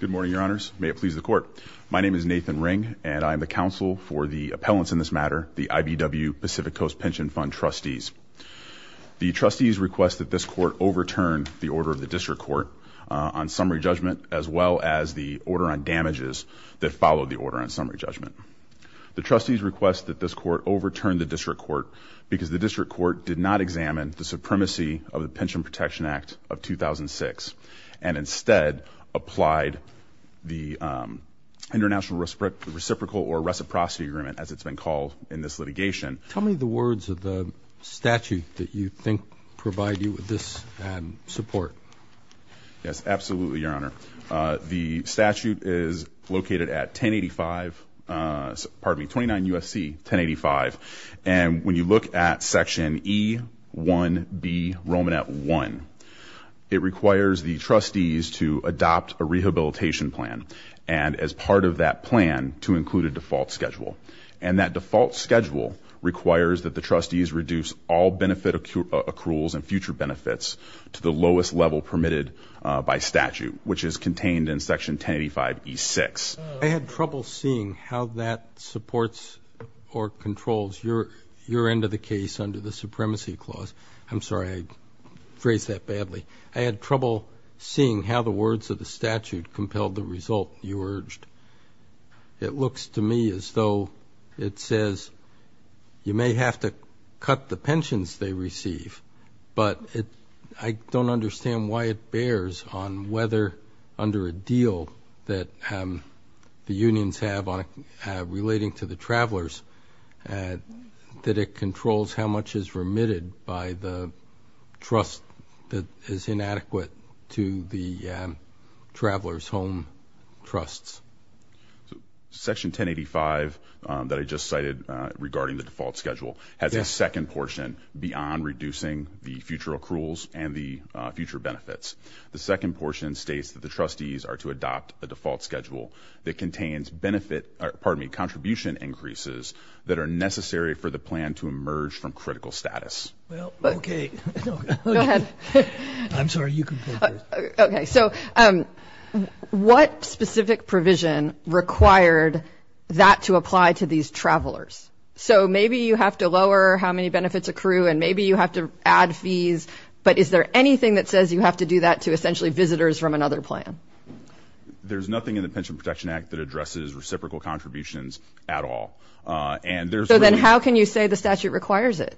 Good morning, your honors. May it please the court. My name is Nathan Ring, and I'm the counsel for the appellants in this matter, the IBW Pacific Coast Pension Fund trustees. The trustees request that this court overturn the order of the district court on summary judgment, as well as the order on damages that followed the order on summary judgment. The trustees request that this court overturn the district court, because the district court did not examine the supremacy of the Pension Protection Act of 2006. And instead, applied the International Reciprocal or Reciprocity Agreement, as it's been called in this litigation. Tell me the words of the statute that you think provide you with this support. Yes, absolutely, your honor. The statute is located at 1085, pardon me, 29 USC, 1085. And when you look at section E1B Romanet 1, it requires the trustees to adopt a rehabilitation plan. And as part of that plan, to include a default schedule. And that default schedule requires that the trustees reduce all benefit accruals and future benefits to the lowest level permitted by statute, which is contained in section 1085 E6. I had trouble seeing how that supports or controls your end of the case under the supremacy clause. I'm sorry, I phrased that badly. I had trouble seeing how the words of the statute compelled the result you urged. It looks to me as though it says, you may have to cut the pensions they receive. But I don't understand why it bears on whether, under a deal that the unions have relating to the travelers, that it controls how much is remitted by the trust that is inadequate to the traveler's home trusts. Section 1085 that I just cited regarding the default schedule has a second portion beyond reducing the future accruals and the future benefits. The second portion states that the trustees are to adopt a default schedule that contains benefit, pardon me, contribution increases that are necessary for the plan to emerge from critical status. Well, okay. Go ahead. I'm sorry, you can go first. Okay, so what specific provision required that to apply to these travelers? So maybe you have to lower how many benefits accrue and maybe you have to add fees, but is there anything that says you have to do that to essentially visitors from another plan? There's nothing in the Pension Protection Act that addresses reciprocal contributions at all. So then how can you say the statute requires it?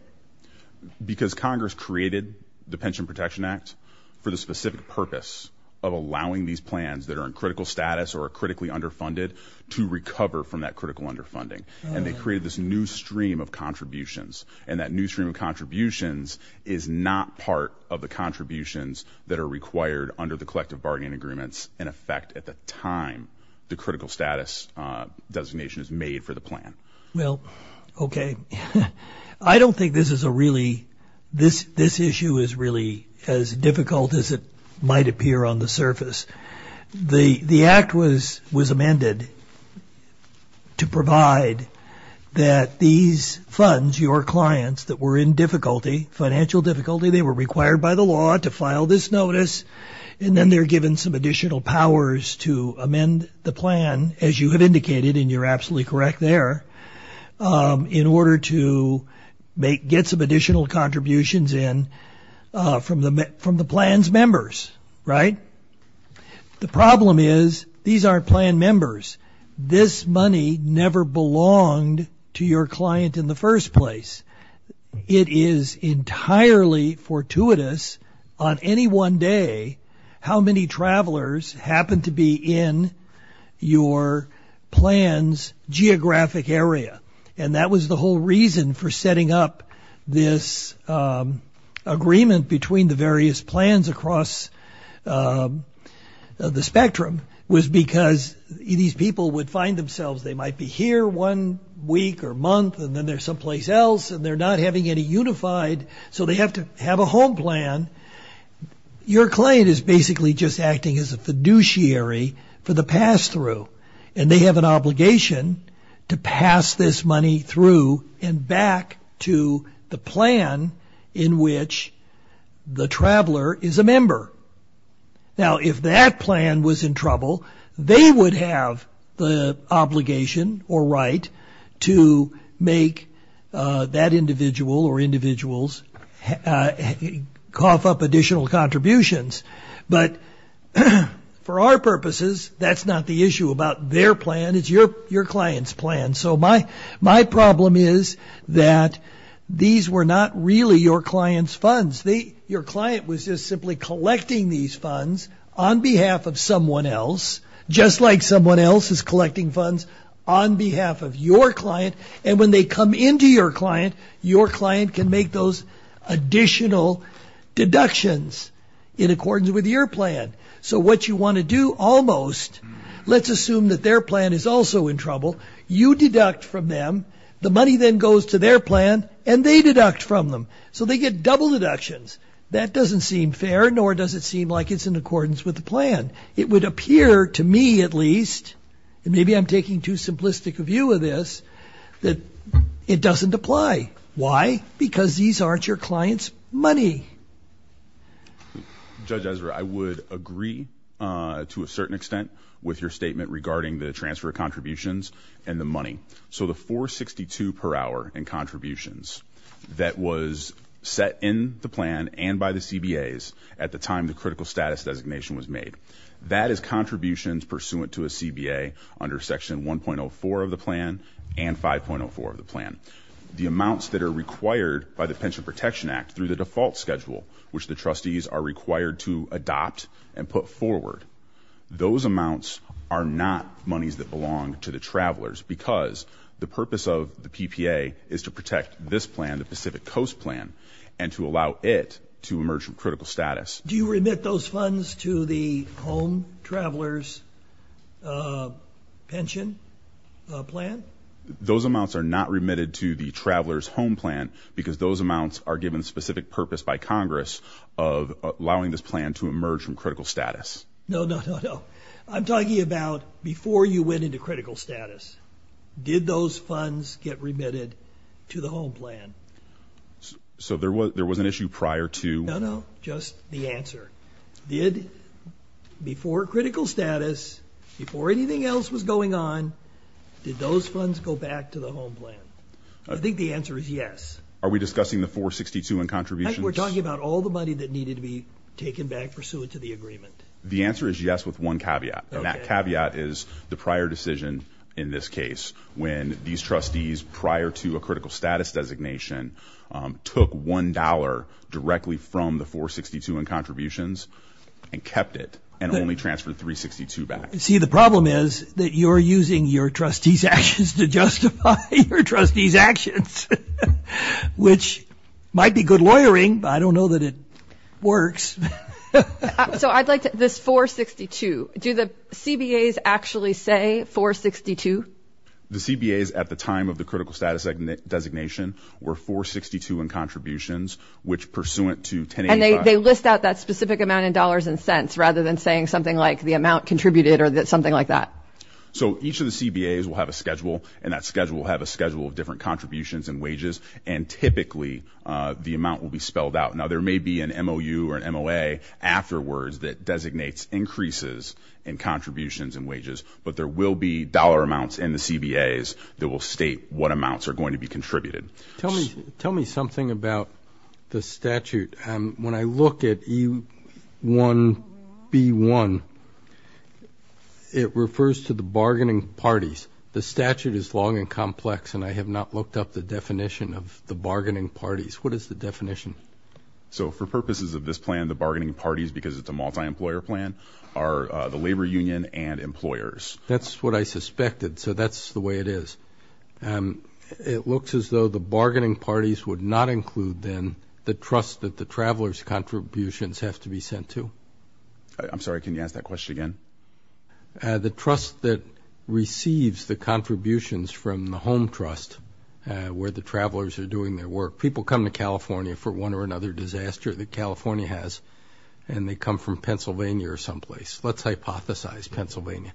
Because Congress created the Pension Protection Act for the specific purpose of allowing these plans that are in critical status or are critically underfunded to recover from that critical underfunding. And they created this new stream of contributions. And that new stream of contributions is not part of the contributions that are required under the collective bargaining agreements in effect at the time the critical status designation is made for the plan. Well, okay. I don't think this is a really, this issue is really as difficult as it might appear on the surface. The act was amended to provide that these funds, your clients that were in difficulty, financial difficulty, they were required by the law to file this notice. And then they're given some additional powers to amend the plan, as you have indicated, and you're absolutely correct there, in order to get some additional contributions in from the plan's members, right? The problem is these aren't plan members. This money never belonged to your client in the first place. It is entirely fortuitous on any one day how many travelers happen to be in your plan's geographic area. And that was the whole reason for setting up this agreement between the various plans across the spectrum was because these people would find themselves, they might be here one week or month, and then they're someplace else, and they're not having any unified, so they have to have a home plan. Your client is basically just acting as a fiduciary for the pass-through, and they have an obligation to pass this money through and back to the plan in which the traveler is a member. Now, if that plan was in trouble, they would have the obligation or right to make that individual or individuals cough up additional contributions. But for our purposes, that's not the issue about their plan. It's your client's plan. So my problem is that these were not really your client's funds. Your client was just simply collecting these funds on behalf of someone else, just like someone else is collecting funds on behalf of your client. And when they come into your client, your client can make those additional deductions in accordance with your plan. So what you wanna do almost, let's assume that their plan is also in trouble. You deduct from them. The money then goes to their plan, and they deduct from them. So they get double deductions. That doesn't seem fair, nor does it seem like it's in accordance with the plan. It would appear to me at least, and maybe I'm taking too simplistic a view of this, that it doesn't apply. Why? Because these aren't your client's money. Judge Ezra, I would agree to a certain extent with your statement regarding the transfer of contributions and the money. So the 462 per hour in contributions that was set in the plan and by the CBAs at the time the critical status designation was made, that is contributions pursuant to a CBA under section 1.04 of the plan and 5.04 of the plan. The amounts that are required by the Pension Protection Act through the default schedule, which the trustees are required to adopt and put forward, those amounts are not monies that belong to the travelers because the purpose of the PPA is to protect this plan, the Pacific Coast plan, and to allow it to emerge from critical status. Do you remit those funds to the home travelers pension plan? Those amounts are not remitted to the travelers home plan because those amounts are given specific purpose by Congress of allowing this plan to emerge from critical status. No, no, no, no. I'm talking about before you went into critical status. Did those funds get remitted to the home plan? So there was an issue prior to- No, no, just the answer. Did, before critical status, before anything else was going on, did those funds go back to the home plan? I think the answer is yes. Are we discussing the 462 in contributions? Mike, we're talking about all the money that needed to be taken back pursuant to the agreement. The answer is yes with one caveat, and that caveat is the prior decision in this case when these trustees prior to a critical status designation took $1 directly from the 462 in contributions and kept it and only transferred 362 back. See, the problem is that you're using your trustee's actions to justify your trustee's actions, which might be good lawyering, but I don't know that it works. So I'd like this 462. Do the CBAs actually say 462? The CBAs at the time of the critical status designation were 462 in contributions, which pursuant to 1085- And they list out that specific amount in dollars and cents rather than saying something like the amount contributed or something like that. So each of the CBAs will have a schedule, and that schedule will have a schedule of different contributions and wages, and typically the amount will be spelled out. Now, there may be an MOU or an MOA afterwards that designates increases in contributions and wages, but there will be dollar amounts in the CBAs that will state what amounts are going to be contributed. Tell me something about the statute. When I look at E1B1, it refers to the bargaining parties. The statute is long and complex, and I have not looked up the definition of the bargaining parties. What is the definition? So for purposes of this plan, the bargaining parties, because it's a multi-employer plan, are the labor union and employers. That's what I suspected, so that's the way it is. It looks as though the bargaining parties would not include, then, the trust that the travelers' contributions have to be sent to. I'm sorry, can you ask that question again? The trust that receives the contributions from the home trust, where the travelers are doing their work. People come to California for one or another disaster that California has, and they come from Pennsylvania or someplace. Let's hypothesize Pennsylvania.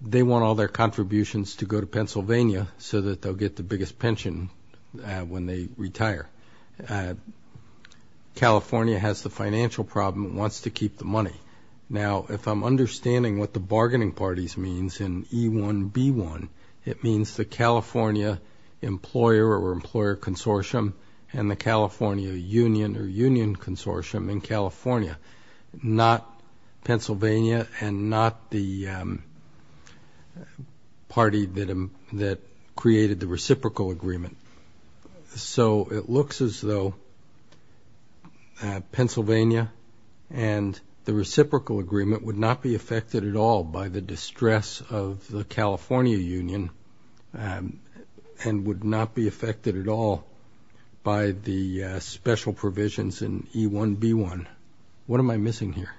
They want all their contributions to go to Pennsylvania so that they'll get the biggest pension when they retire. California has the financial problem, wants to keep the money. Now, if I'm understanding what the bargaining parties means in E1B1, it means the California employer or employer consortium and the California union or union consortium in California. Not Pennsylvania and not the party that created the reciprocal agreement. So it looks as though Pennsylvania and the reciprocal agreement would not be affected at all by the distress of the California union, and would not be affected at all by the special provisions in E1B1, What am I missing here?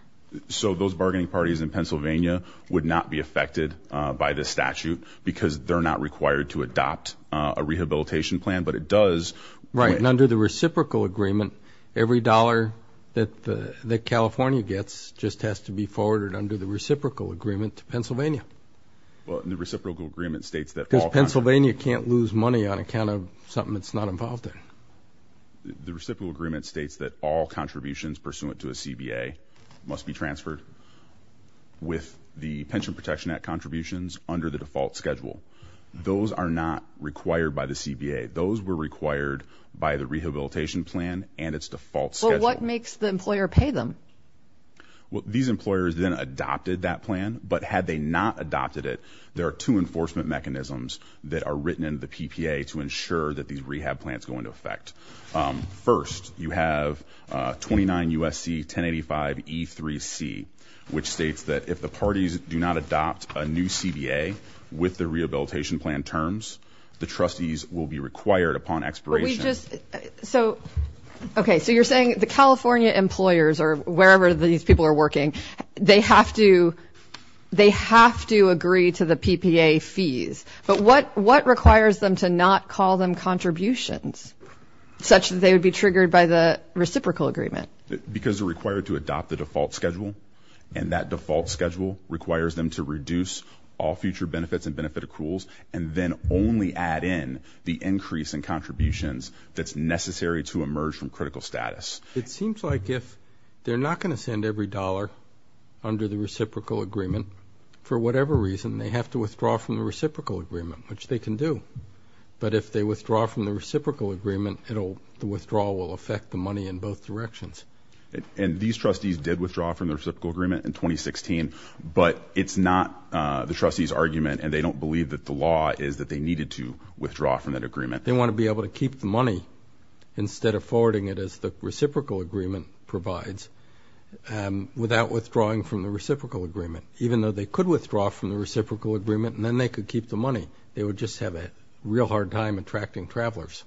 So those bargaining parties in Pennsylvania would not be affected by the statute because they're not required to adopt a rehabilitation plan, but it does. Right, and under the reciprocal agreement, every dollar that California gets just has to be forwarded under the reciprocal agreement to Pennsylvania. Well, the reciprocal agreement states that all- Because Pennsylvania can't lose money on account of something it's not involved in. The reciprocal agreement states that all contributions pursuant to a CBA must be transferred with the Pension Protection Act contributions under the default schedule. Those are not required by the CBA. Those were required by the rehabilitation plan and its default schedule. Well, what makes the employer pay them? Well, these employers then adopted that plan, but had they not adopted it, there are two enforcement mechanisms that are written in the PPA to ensure that these rehab plans go into effect. First, you have 29 U.S.C. 1085 E3C, which states that if the parties do not adopt a new CBA with the rehabilitation plan terms, the trustees will be required upon expiration. But we just, so, okay. So you're saying the California employers or wherever these people are working, they have to agree to the PPA fees, but what requires them to not call them contributions? Such that they would be triggered by the reciprocal agreement. Because they're required to adopt the default schedule and that default schedule requires them to reduce all future benefits and benefit accruals and then only add in the increase in contributions that's necessary to emerge from critical status. It seems like if they're not gonna send every dollar under the reciprocal agreement, for whatever reason, they have to withdraw from the reciprocal agreement, which they can do. But if they withdraw from the reciprocal agreement, the withdrawal will affect the money in both directions. And these trustees did withdraw from the reciprocal agreement in 2016, but it's not the trustees' argument and they don't believe that the law is that they needed to withdraw from that agreement. They wanna be able to keep the money instead of forwarding it as the reciprocal agreement provides without withdrawing from the reciprocal agreement, even though they could withdraw from the reciprocal agreement and then they could keep the money. They would just have a real hard time attracting travelers.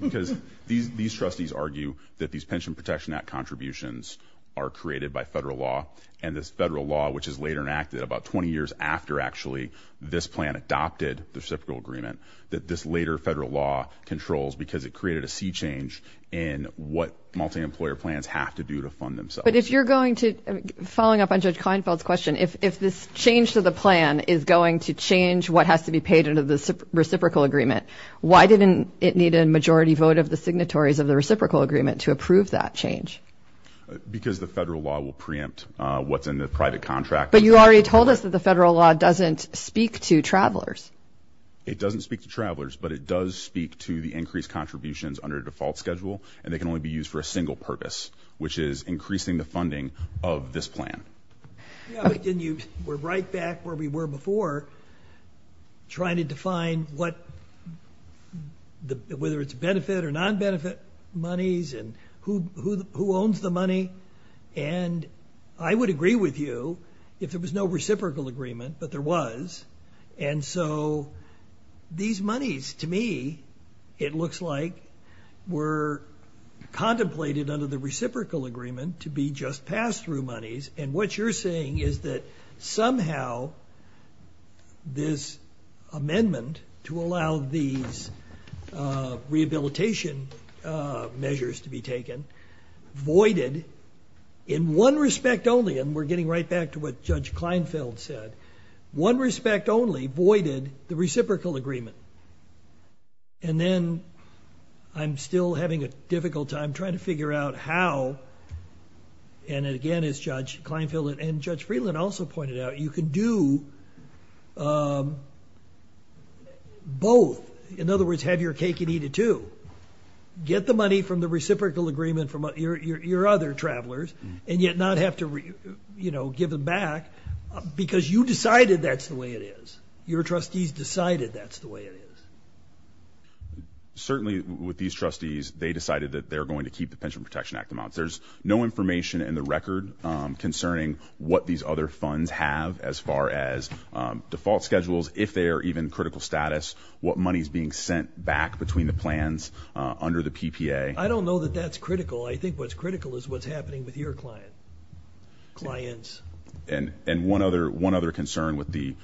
Because these trustees argue that these Pension Protection Act contributions are created by federal law and this federal law, which is later enacted about 20 years after actually this plan adopted the reciprocal agreement, that this later federal law controls because it created a sea change in what multi-employer plans have to do to fund themselves. But if you're going to, following up on Judge Kleinfeld's question, if this change to the plan is going to change what has to be paid under the reciprocal agreement, why didn't it need a majority vote of the signatories of the reciprocal agreement to approve that change? Because the federal law will preempt what's in the private contract. But you already told us that the federal law doesn't speak to travelers. It doesn't speak to travelers, but it does speak to the increased contributions under the default schedule and they can only be used for a single purpose, which is increasing the funding of this plan. We're right back where we were before trying to define what, whether it's benefit or non-benefit monies and who owns the money. And I would agree with you if there was no reciprocal agreement, but there was. And so these monies, to me, it looks like were contemplated under the reciprocal agreement to be just pass-through monies. And what you're saying is that somehow this amendment to allow these rehabilitation measures to be taken voided in one respect only, and we're getting right back to what Judge Kleinfeld said, one respect only voided the reciprocal agreement. And then I'm still having a difficult time trying to figure out how, and again, as Judge Kleinfeld and Judge Freeland also pointed out, you can do both. In other words, have your cake and eat it too. Get the money from the reciprocal agreement from your other travelers and yet not have to give them back because you decided that's the way it is. Your trustees decided that's the way it is. Certainly with these trustees, they decided that they're going to keep the Pension Protection Act amounts. There's no information in the record concerning what these other funds have as far as default schedules, if they are even critical status, what money's being sent back between the plans under the PPA. I don't know that that's critical. I think what's critical is what's happening with your client, clients. And one other concern with the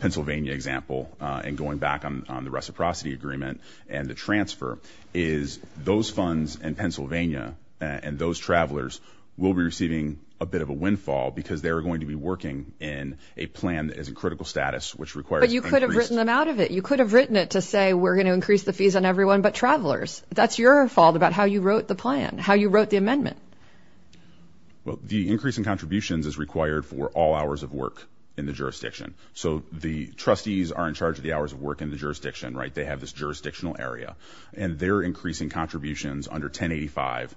Pennsylvania example and going back on the reciprocity agreement and the transfer is those funds in Pennsylvania and those travelers will be receiving a bit of a windfall because they're going to be working in a plan that is in critical status, which requires- But you could have written them out of it. You could have written it to say, we're going to increase the fees on everyone, but travelers, that's your fault about how you wrote the plan, how you wrote the amendment. Well, the increase in contributions is required for all hours of work in the jurisdiction. So the trustees are in charge of the hours of work in the jurisdiction, right? They have this jurisdictional area and they're increasing contributions under 1085.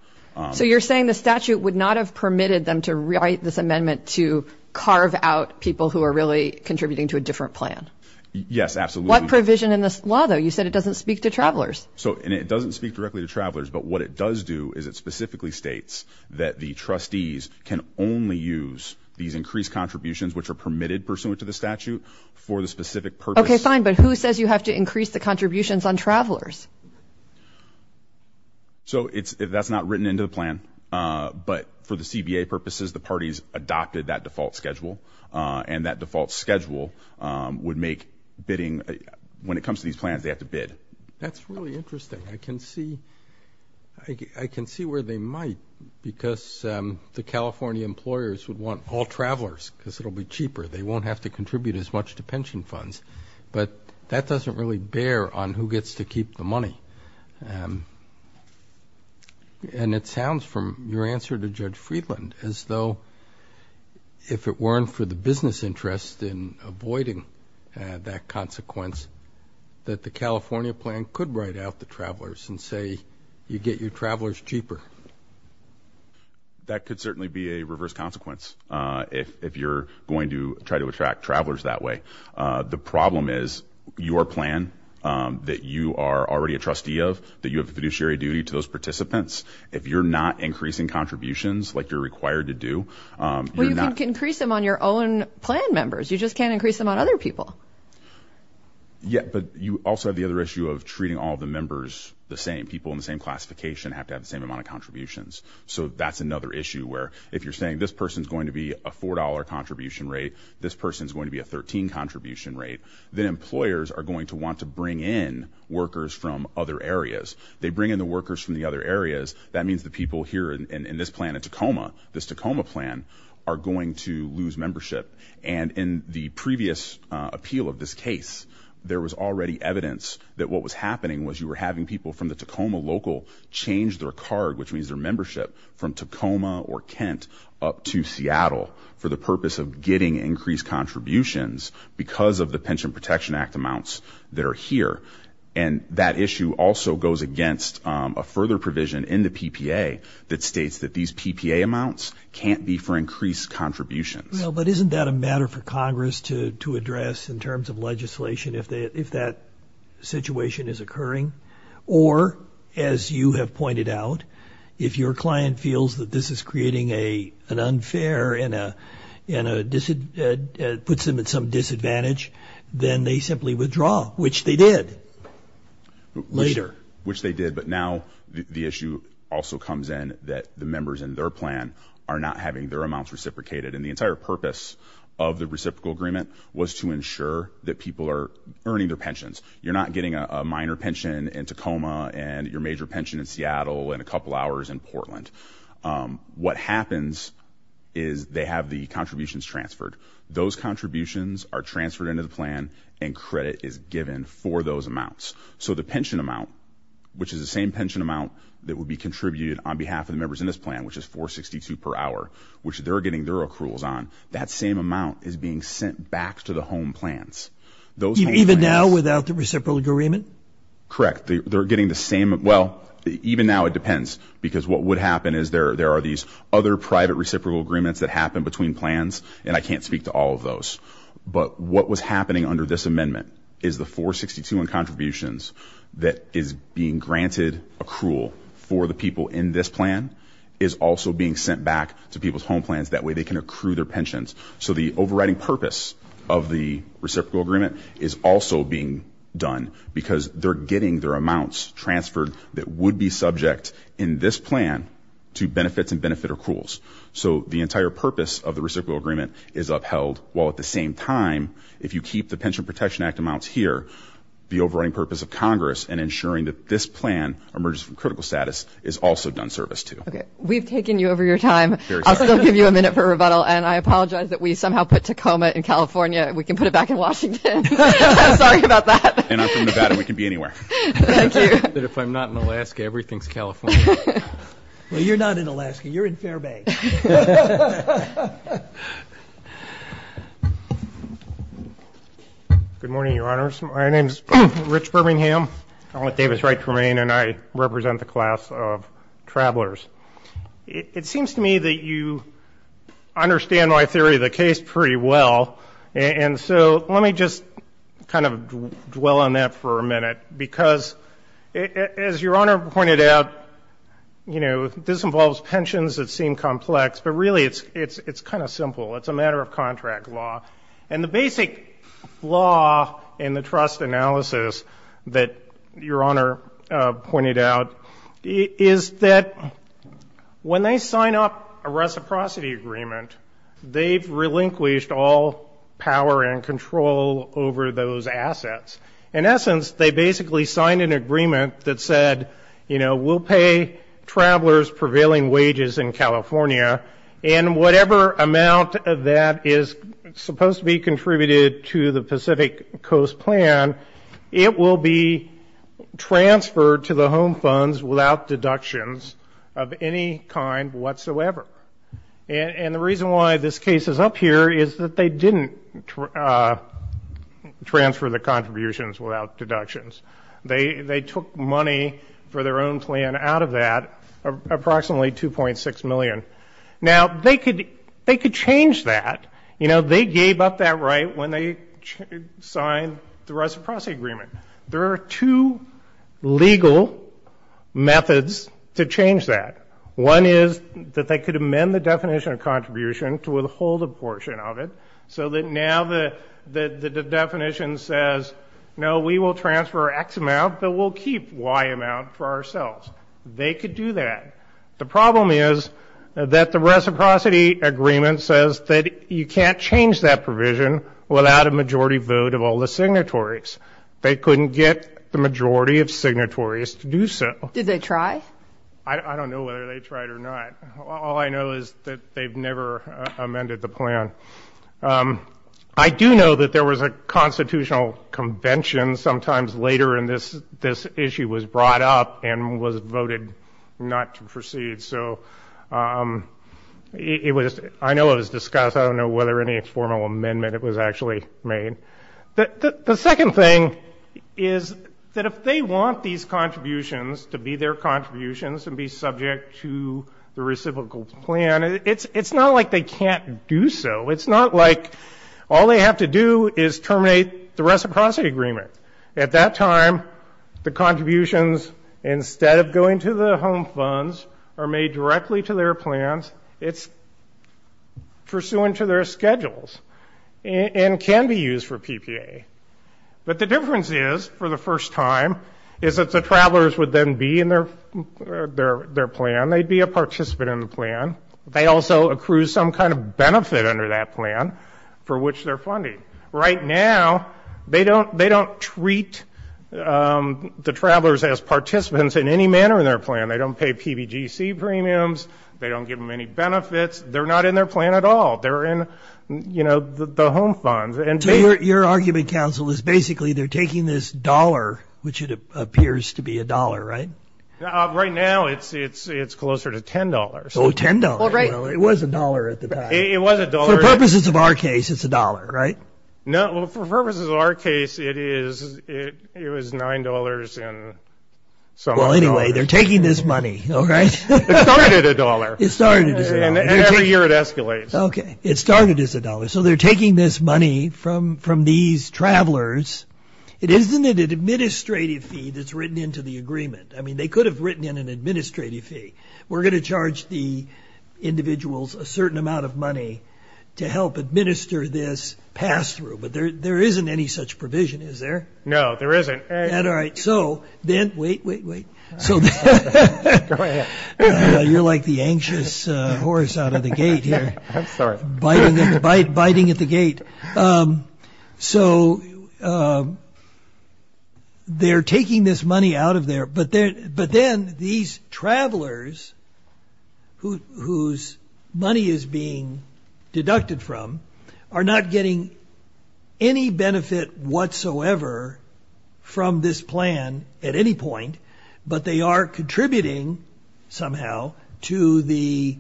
So you're saying the statute would not have permitted them to write this amendment to carve out people who are really contributing to a different plan? Yes, absolutely. What provision in this law though? You said it doesn't speak to travelers. So, and it doesn't speak directly to travelers, but what it does do is it specifically states that the trustees can only use these increased contributions, which are permitted pursuant to the statute for the specific purpose. Okay, fine. But who says you have to increase the contributions on travelers? So it's, that's not written into the plan, but for the CBA purposes, the parties adopted that default schedule and that default schedule would make bidding, when it comes to these plans, they have to bid. That's really interesting. I can see, I can see where they might because the California employers would want all travelers because it'll be cheaper. They won't have to contribute as much to pension funds, but that doesn't really bear on who gets to keep the money. And it sounds from your answer to Judge Friedland as though if it weren't for the business interest in avoiding that consequence, that the California plan could write out the travelers and say, you get your travelers cheaper. That could certainly be a reverse consequence. If you're going to try to attract travelers that way, the problem is your plan that you are already a trustee of, that you have a fiduciary duty to those participants. If you're not increasing contributions like you're required to do. Well, you can increase them on your own plan members. You just can't increase them on other people. Yeah, but you also have the other issue of treating all the members the same. People in the same classification have to have the same amount of contributions. So that's another issue where if you're saying this person's going to be a $4 contribution rate, this person's going to be a 13 contribution rate, then employers are going to want to bring in workers from other areas. They bring in the workers from the other areas. That means the people here in this plan at Tacoma, this Tacoma plan are going to lose membership. And in the previous appeal of this case, there was already evidence that what was happening was you were having people from the Tacoma local change their card, which means their membership from Tacoma or Kent up to Seattle for the purpose of getting increased contributions because of the Pension Protection Act amounts that are here. And that issue also goes against a further provision in the PPA that states that these PPA amounts can't be for increased contributions. Well, but isn't that a matter for Congress to address in terms of legislation if that situation is occurring? Or as you have pointed out, if your client feels that this is creating an unfair and puts them at some disadvantage, then they simply withdraw, which they did later. Which they did, but now the issue also comes in that the members in their plan are not having their amounts reciprocated. And the entire purpose of the reciprocal agreement was to ensure that people are earning their pensions. You're not getting a minor pension in Tacoma and your major pension in Seattle and a couple hours in Portland. What happens is they have the contributions transferred. Those contributions are transferred into the plan and credit is given for those amounts. So the pension amount, which is the same pension amount that would be contributed on behalf of the members in this plan, which is 462 per hour, which they're getting their accruals on, that same amount is being sent back to the home plans. Those home plans- Even now without the reciprocal agreement? Correct. They're getting the same, well, even now it depends because what would happen is there are these other private reciprocal agreements that happen between plans. And I can't speak to all of those. But what was happening under this amendment is the 462 in contributions that is being granted accrual for the people in this plan is also being sent back to people's home plans. That way they can accrue their pensions. So the overriding purpose of the reciprocal agreement is also being done because they're getting their amounts transferred that would be subject in this plan to benefits and benefit accruals. So the entire purpose of the reciprocal agreement is upheld while at the same time, if you keep the Pension Protection Act amounts here, the overriding purpose of Congress and ensuring that this plan emerges from critical status is also done service to. Okay, we've taken you over your time. I'll still give you a minute for rebuttal. And I apologize that we somehow put Tacoma in California. We can put it back in Washington. Sorry about that. And I'm from Nevada, we can be anywhere. Thank you. But if I'm not in Alaska, everything's California. Well, you're not in Alaska. You're in Fairbanks. Good morning, Your Honors. My name's Rich Birmingham. I'm with Davis Wright Tremaine, and I represent the class of travelers. It seems to me that you understand my theory of the case pretty well. And so let me just kind of dwell on that for a minute. Because as Your Honor pointed out, this involves pensions that seem complex. But really, it's kind of simple. It's a matter of contract law. And the basic flaw in the trust analysis that Your Honor pointed out is that when they sign up a reciprocity agreement, they've relinquished all power and control over those assets. In essence, they basically signed an agreement that said, we'll pay travelers prevailing wages in California. And whatever amount of that is supposed to be contributed to the Pacific Coast plan, it will be transferred to the home funds without deductions of any kind whatsoever. And the reason why this case is up here is that they didn't transfer the contributions without deductions. They took money for their own plan out of that, approximately $2.6 million. Now, they could change that. You know, they gave up that right when they signed the reciprocity agreement. There are two legal methods to change that. One is that they could amend the definition of contribution to withhold a portion of it so that now the definition says, no, we will transfer X amount, but we'll keep Y amount for ourselves. They could do that. The problem is that the reciprocity agreement says that you can't change that provision without a majority vote of all the signatories. They couldn't get the majority of signatories to do so. Did they try? I don't know whether they tried or not. All I know is that they've never amended the plan. I do know that there was a constitutional convention sometimes later, and this issue was brought up and was voted not to proceed. So I know it was discussed. I don't know whether any formal amendment was actually made. The second thing is that if they want these contributions to be their contributions and be subject to the reciprocal plan, it's not like they can't do so. It's not like all they have to do is terminate the reciprocity agreement. At that time, the contributions, instead of going to the home funds, are made directly to their plans. It's pursuant to their schedules and can be used for PPA. But the difference is, for the first time, is that the travelers would then be in their plan. They'd be a participant in the plan. They also accrue some kind of benefit under that plan for which they're funded. Right now, they don't treat the travelers as participants in any manner in their plan. They don't pay PBGC premiums. They don't give them any benefits. They're not in their plan at all. They're in the home funds. Your argument, counsel, is basically they're taking this dollar, which it appears to be a dollar, right? Right now, it's closer to $10. Oh, $10. It was a dollar at the time. It was a dollar. For purposes of our case, it's a dollar, right? No, for purposes of our case, it was $9 and some other dollars. Well, anyway, they're taking this money, all right? It started at a dollar. It started as a dollar. And every year, it escalates. OK, it started as a dollar. So they're taking this money from these travelers. It isn't an administrative fee that's written into the agreement. I mean, they could have written in an administrative fee. We're going to charge the individuals a certain amount of money to help administer this pass-through. But there isn't any such provision, is there? No, there isn't. All right, so then, wait, wait, wait. So you're like the anxious horse out of the gate here, biting at the gate. So they're taking this money out of there. But then, these travelers, whose money is being deducted from, are not getting any benefit whatsoever from this plan at any point. But they are contributing, somehow, to the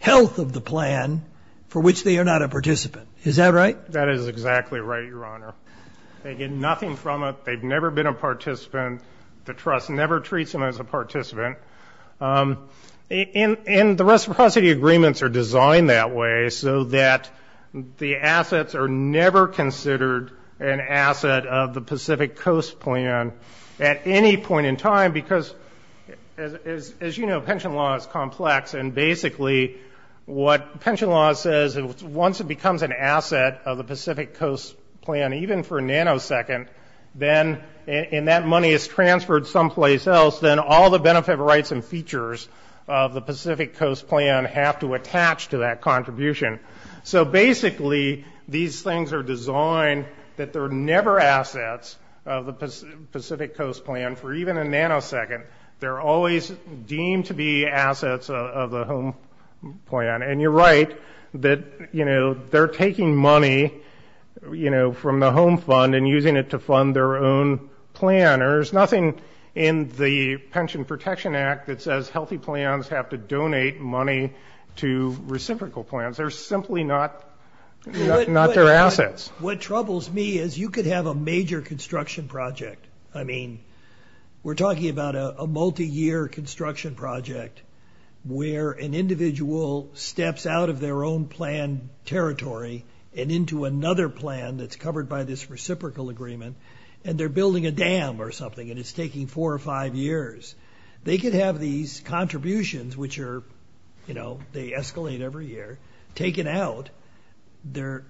health of the plan for which they are not a participant. Is that right? That is exactly right, Your Honor. They get nothing from it. They've never been a participant. The trust never treats them as a participant. And the reciprocity agreements are designed that way so that the assets are never considered an asset of the Pacific Coast plan at any point in time. Because, as you know, pension law is complex. And basically, what pension law says, once it becomes an asset of the Pacific Coast plan, even for a nanosecond, then, and that money is transferred someplace else, then all the benefit rights and features of the Pacific Coast plan have to attach to that contribution. So basically, these things are designed that they're never assets of the Pacific Coast plan for even a nanosecond. They're always deemed to be assets of the home plan. And you're right that they're taking money from the home fund and using it to fund their own plan. There's nothing in the Pension Protection Act that says healthy plans have to donate money to reciprocal plans. They're simply not their assets. What troubles me is you could have a major construction project. I mean, we're talking about a multi-year construction project where an individual steps out of their own plan territory and into another plan that's covered by this reciprocal agreement, and they're building a dam or something, and it's taking four or five years. They could have these contributions, which are, you know, they escalate every year, taken out. Their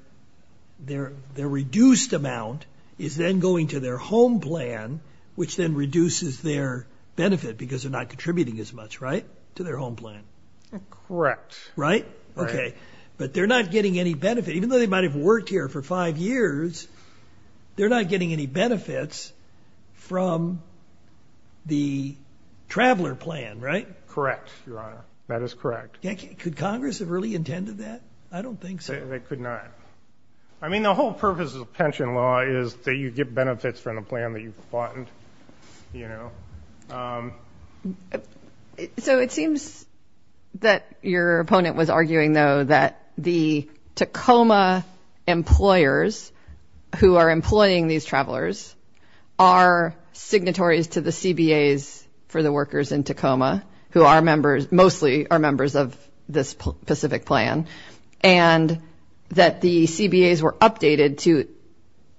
reduced amount is then going to their home plan, which then reduces their benefit because they're not contributing as much, right, to their home plan. Correct. Right? OK. But they're not getting any benefit. Even though they might have worked here for five years, they're not getting any benefits from the traveler plan, right? Correct, Your Honor. That is correct. Could Congress have really intended that? I don't think so. They could not. I mean, the whole purpose of the pension law is that you get benefits from the plan that you fund. You know? So it seems that your opponent was arguing, though, that the Tacoma employers who are employing these travelers are signatories to the CBAs for the workers in Tacoma, who mostly are members of this specific plan, and that the CBAs were updated to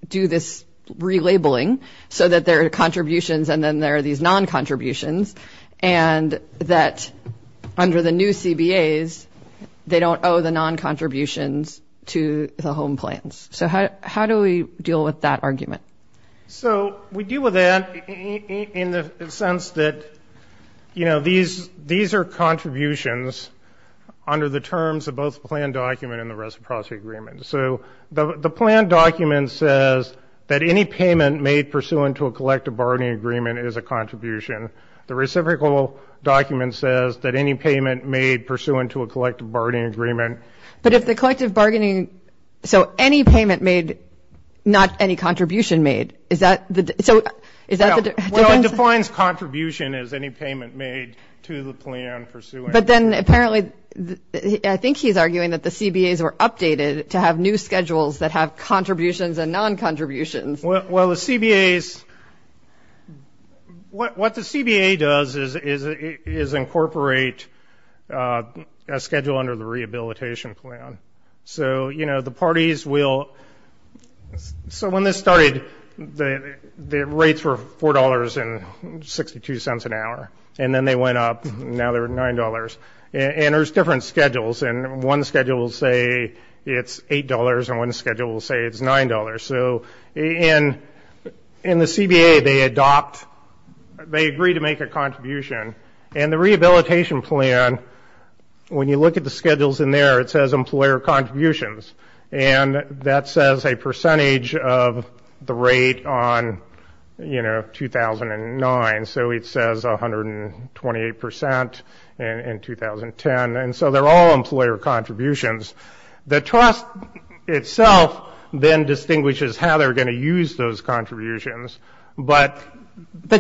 do this relabeling so that their contributions and then there are these non-contributions, and that under the new CBAs, they don't owe the non-contributions to the home plans. So how do we deal with that argument? So we deal with that in the sense that these are contributions under the terms of both plan document and the reciprocity agreement. So the plan document says that any payment made pursuant to a collective bargaining agreement is a contribution. The reciprocal document says that any payment made pursuant to a collective bargaining agreement. But if the collective bargaining, so any payment made, not any contribution made, is that the difference? Well, it defines contribution as any payment made to the plan pursuant. But then apparently, I think he's arguing that the CBAs were updated to have new schedules that have contributions and non-contributions. Well, the CBAs, what the CBA does is incorporate a schedule under the rehabilitation plan. So the parties will, so when this started, the rates were $4.62 an hour. And then they went up. Now they're $9. And there's different schedules. And one schedule will say it's $8. And one schedule will say it's $9. So in the CBA, they agree to make a contribution. And the rehabilitation plan, when you look at the schedules in there, it says employer contributions. And that says a percentage of the rate on 2009. So it says 128% in 2010. And so they're all employer contributions. The trust itself then distinguishes how they're going to use those contributions. But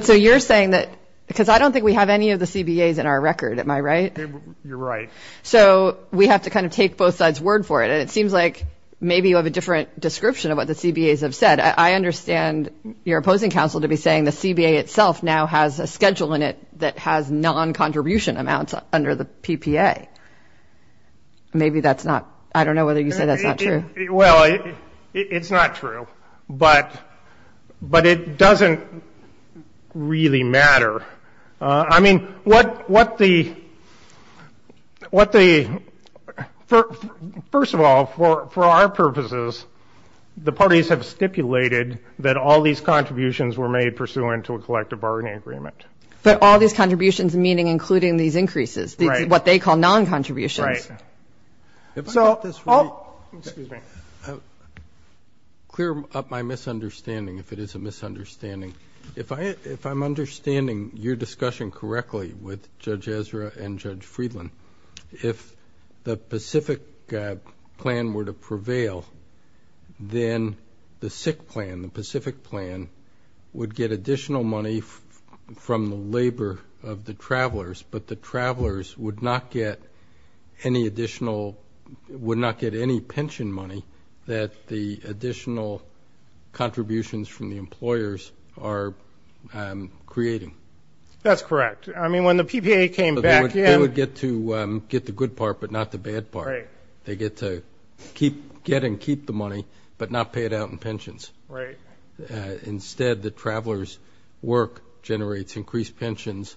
so you're saying that, because I don't think we have any of the CBAs in our record, am I right? You're right. So we have to kind of take both sides word for it. And it seems like maybe you have a different description of what the CBAs have said. I understand your opposing counsel to be saying the CBA itself now has a schedule in it that has non-contribution amounts under the PPA. Maybe that's not, I don't know whether you say that's not true. Well, it's not true. But it doesn't really matter. I mean, what the, first of all, for our purposes, the parties have stipulated that all these contributions were made pursuant to a collective bargaining agreement. But all these contributions meaning including these increases, what they call non-contributions. If I get this right, clear up my misunderstanding, if it is a misunderstanding. If I'm understanding your discussion correctly with Judge Ezra and Judge Friedland, if the Pacific plan were to prevail, then the SIC plan, the Pacific plan, would get additional money from the labor of the travelers. But the travelers would not get any additional, would not get any pension money that the additional contributions from the employers are creating. That's correct. I mean, when the PPA came back in. They would get to get the good part, but not the bad part. They get to get and keep the money, but not pay it out in pensions. Right. Instead, the travelers' work generates increased pensions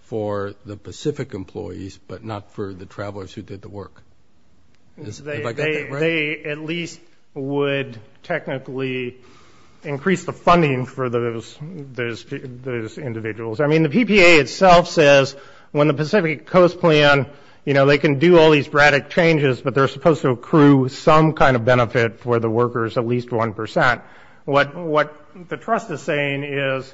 for the Pacific employees, but not for the travelers who did the work. If I got that right? They at least would technically increase the funding for those individuals. I mean, the PPA itself says when the Pacific Coast plan, you know, they can do all these dramatic changes, but they're supposed to accrue some kind of benefit for the workers, at least 1%. What the trust is saying is,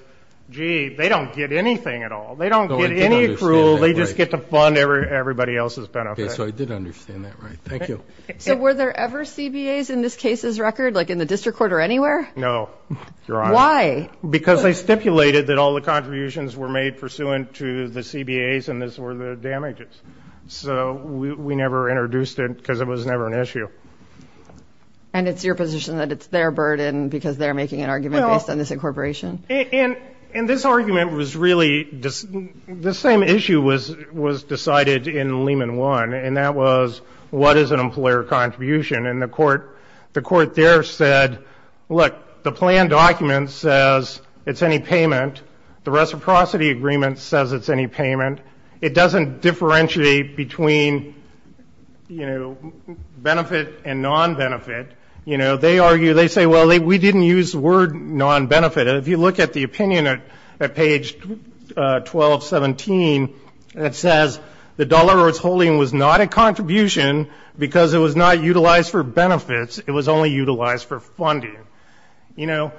gee, they don't get anything at all. They don't get any accrual. They just get to fund everybody else's benefit. So I did understand that right. Thank you. So were there ever CBAs in this case's record, like in the district court or anywhere? No, Your Honor. Why? Because they stipulated that all the contributions were made pursuant to the CBAs, and this were the damages. So we never introduced it, because it was never an issue. And it's your position that it's their burden, because they're making an argument based on this incorporation? And this argument was really, the same issue was decided in Lehman One, and that was, what is an employer contribution? And the court there said, look, the plan document says it's any payment. The reciprocity agreement says it's any payment. It doesn't differentiate between benefit and non-benefit. They argue, they say, well, we didn't use the word non-benefit. If you look at the opinion at page 1217, it says the dollar or its holding was not a contribution, because it was not utilized for benefits. It was only utilized for funding. The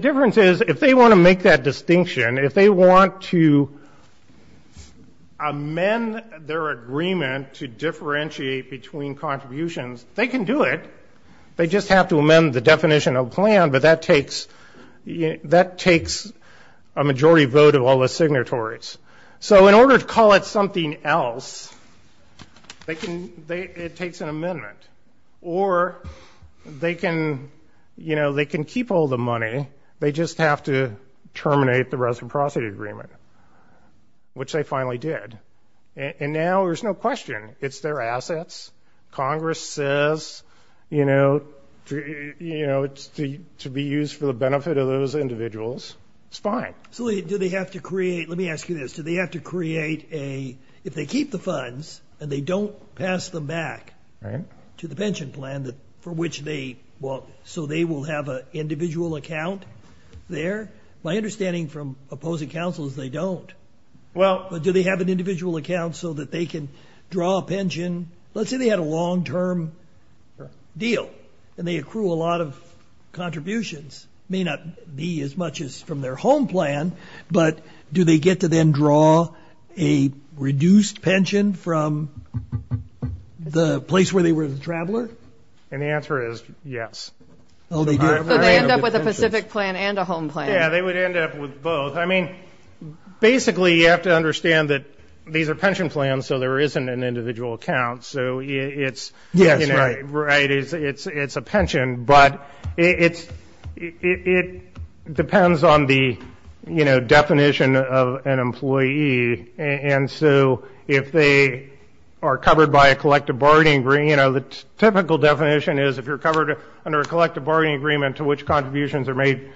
difference is, if they want to make that distinction, if they want to amend their agreement to differentiate between contributions, they can do it. They just have to amend the definition of plan, but that takes a majority vote of all the signatories. So in order to call it something else, it takes an amendment. Or they can keep all the money. They just have to terminate the reciprocity agreement, which they finally did. And now there's no question. It's their assets. Congress says it's to be used for the benefit of those individuals. It's fine. So do they have to create, let me ask you this, do they have to create a, if they keep the funds and they don't pass them back to the pension plan, for which so they will have an individual account there? My understanding from opposing counsel is they don't. But do they have an individual account so that they can draw a pension? Let's say they had a long-term deal, and they accrue a lot of contributions. May not be as much as from their home plan, but do they get to then draw a reduced pension from the place where they were the traveler? And the answer is yes. Oh, they do. So they end up with a Pacific plan and a home plan. Yeah, they would end up with both. I mean, basically, you have to understand that these are pension plans, so there isn't an individual account. So it's a pension. But it depends on the definition of an employee. And so if they are covered by a collective bargaining agreement, the typical definition is if you're covered under a collective bargaining agreement to which contributions are made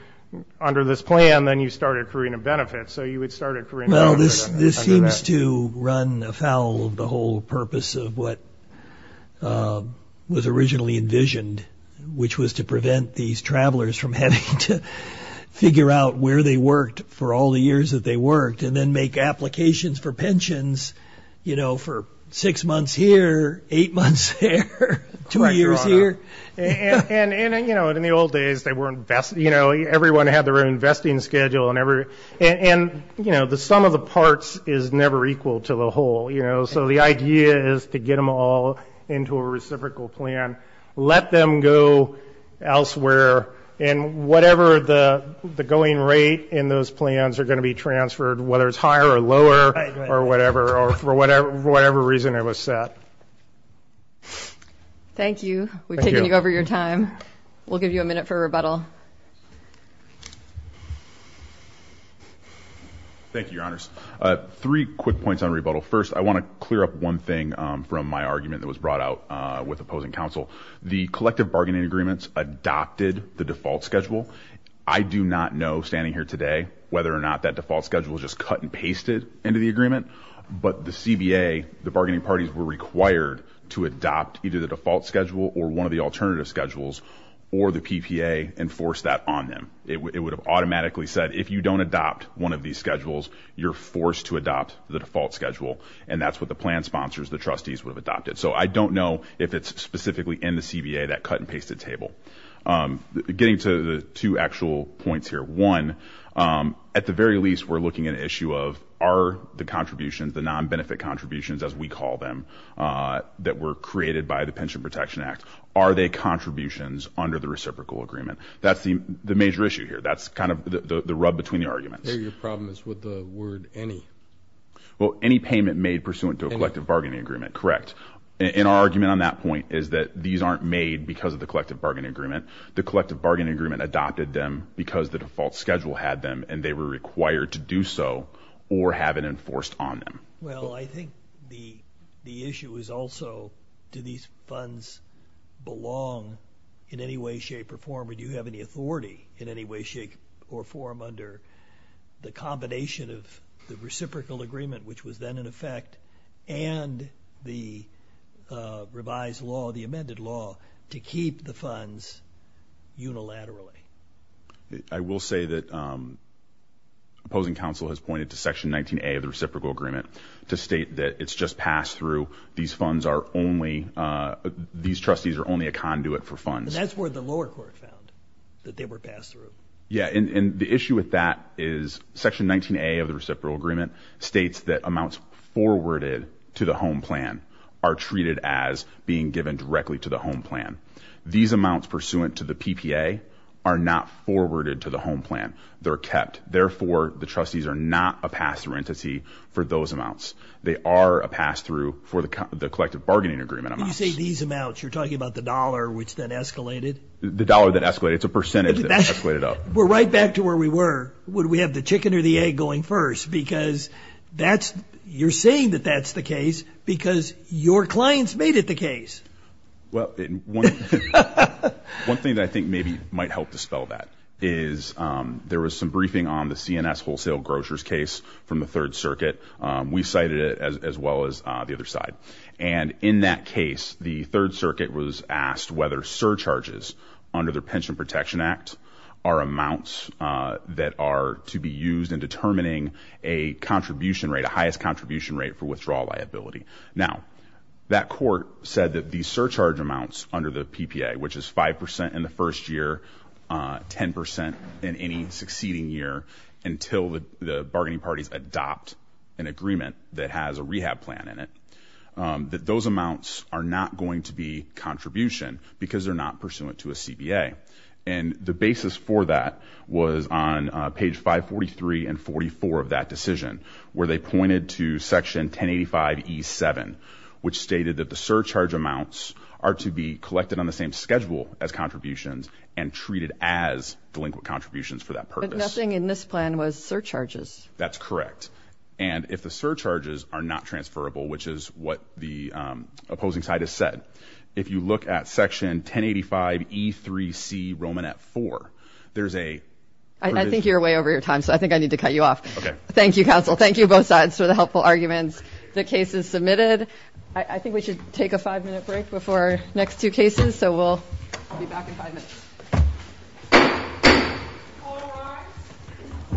under this plan, then you start accruing a benefit. So you would start accruing a benefit under that. Well, this seems to run afoul of the whole purpose of what was originally envisioned, which was to prevent these travelers from having to figure out where they worked for all the years that they worked, and then make applications for pensions for six months here, eight months there, two years here. And in the old days, everyone had their own investing schedule. And the sum of the parts is never equal to the whole. So the idea is to get them all into a reciprocal plan, let them go elsewhere. And whatever the going rate in those plans are going to be transferred, whether it's higher or lower or whatever, or for whatever reason it was set. Thank you. We've taken you over your time. We'll give you a minute for rebuttal. Thank you, Your Honors. Three quick points on rebuttal. First, I want to clear up one thing from my argument that was brought out with opposing counsel. The collective bargaining agreements adopted the default schedule. I do not know, standing here today, whether or not that default schedule was just cut and pasted into the agreement. But the CBA, the bargaining parties, were required to adopt either the default schedule, or one of the alternative schedules, or the PPA, and force that on them. It would have automatically said, if you don't adopt one of these schedules, you're forced to adopt the default schedule. And that's what the plan sponsors, the trustees, would have adopted. So I don't know if it's specifically in the CBA, that cut and pasted table. Getting to the two actual points here. One, at the very least, we're looking at an issue of, are the contributions, the non-benefit contributions, as we call them, that were created by the Pension Protection Act, are they contributions under the reciprocal agreement? That's the major issue here. That's kind of the rub between the arguments. I hear your problem is with the word, any. Well, any payment made pursuant to a collective bargaining agreement, correct. And our argument on that point is that these aren't made because of the collective bargaining agreement. The collective bargaining agreement adopted them because the default schedule had them, and they were required to do so, or have it enforced on them. Well, I think the issue is also, do these funds belong in any way, shape, or form? Or do you have any authority in any way, shape, or form under the combination of the reciprocal agreement, which was then in effect, and the revised law, the amended law, to keep the funds unilaterally? I will say that opposing counsel has pointed to section 19A of the reciprocal agreement to state that it's just passed through. These funds are only, these trustees are only a conduit for funds. That's where the lower court found that they were passed through. Yeah, and the issue with that is section 19A of the reciprocal agreement states that amounts forwarded to the home plan are treated as being given directly to the home plan. These amounts pursuant to the PPA are not forwarded to the home plan. They're kept. Therefore, the trustees are not a pass-through entity for those amounts. They are a pass-through for the collective bargaining agreement amounts. When you say these amounts, you're talking about the dollar, which then escalated? The dollar that escalated. It's a percentage that escalated up. We're right back to where we were. Would we have the chicken or the egg going first? Because you're saying that that's the case, because your clients made it the case. Well, one thing that I think maybe might help dispel that is there was some briefing on the CNS Wholesale Grocers case from the Third Circuit. We cited it as well as the other side. And in that case, the Third Circuit was asked whether surcharges under the Pension Protection Act are amounts that are to be used in determining a contribution rate, a highest contribution rate for withdrawal liability. Now, that court said that the surcharge amounts under the PPA, which is 5% in the first year, 10% in any succeeding year, until the bargaining parties adopt an agreement that has a rehab plan in it, that those amounts are not going to be contribution, because they're not pursuant to a CBA. And the basis for that was on page 543 and 44 of that decision, where they pointed to section 1085E7, which stated that the surcharge amounts are to be collected on the same schedule as contributions and treated as delinquent contributions for that purpose. But nothing in this plan was surcharges. That's correct. And if the surcharges are not transferable, which is what the opposing side has said, if you look at section 1085E3C Romanet 4, there's a provision. I think you're way over your time, so I think I need to cut you off. Thank you, counsel. Thank you, both sides, for the helpful arguments. The case is submitted. I think we should take a five-minute break before our next two cases. So we'll be back in five minutes.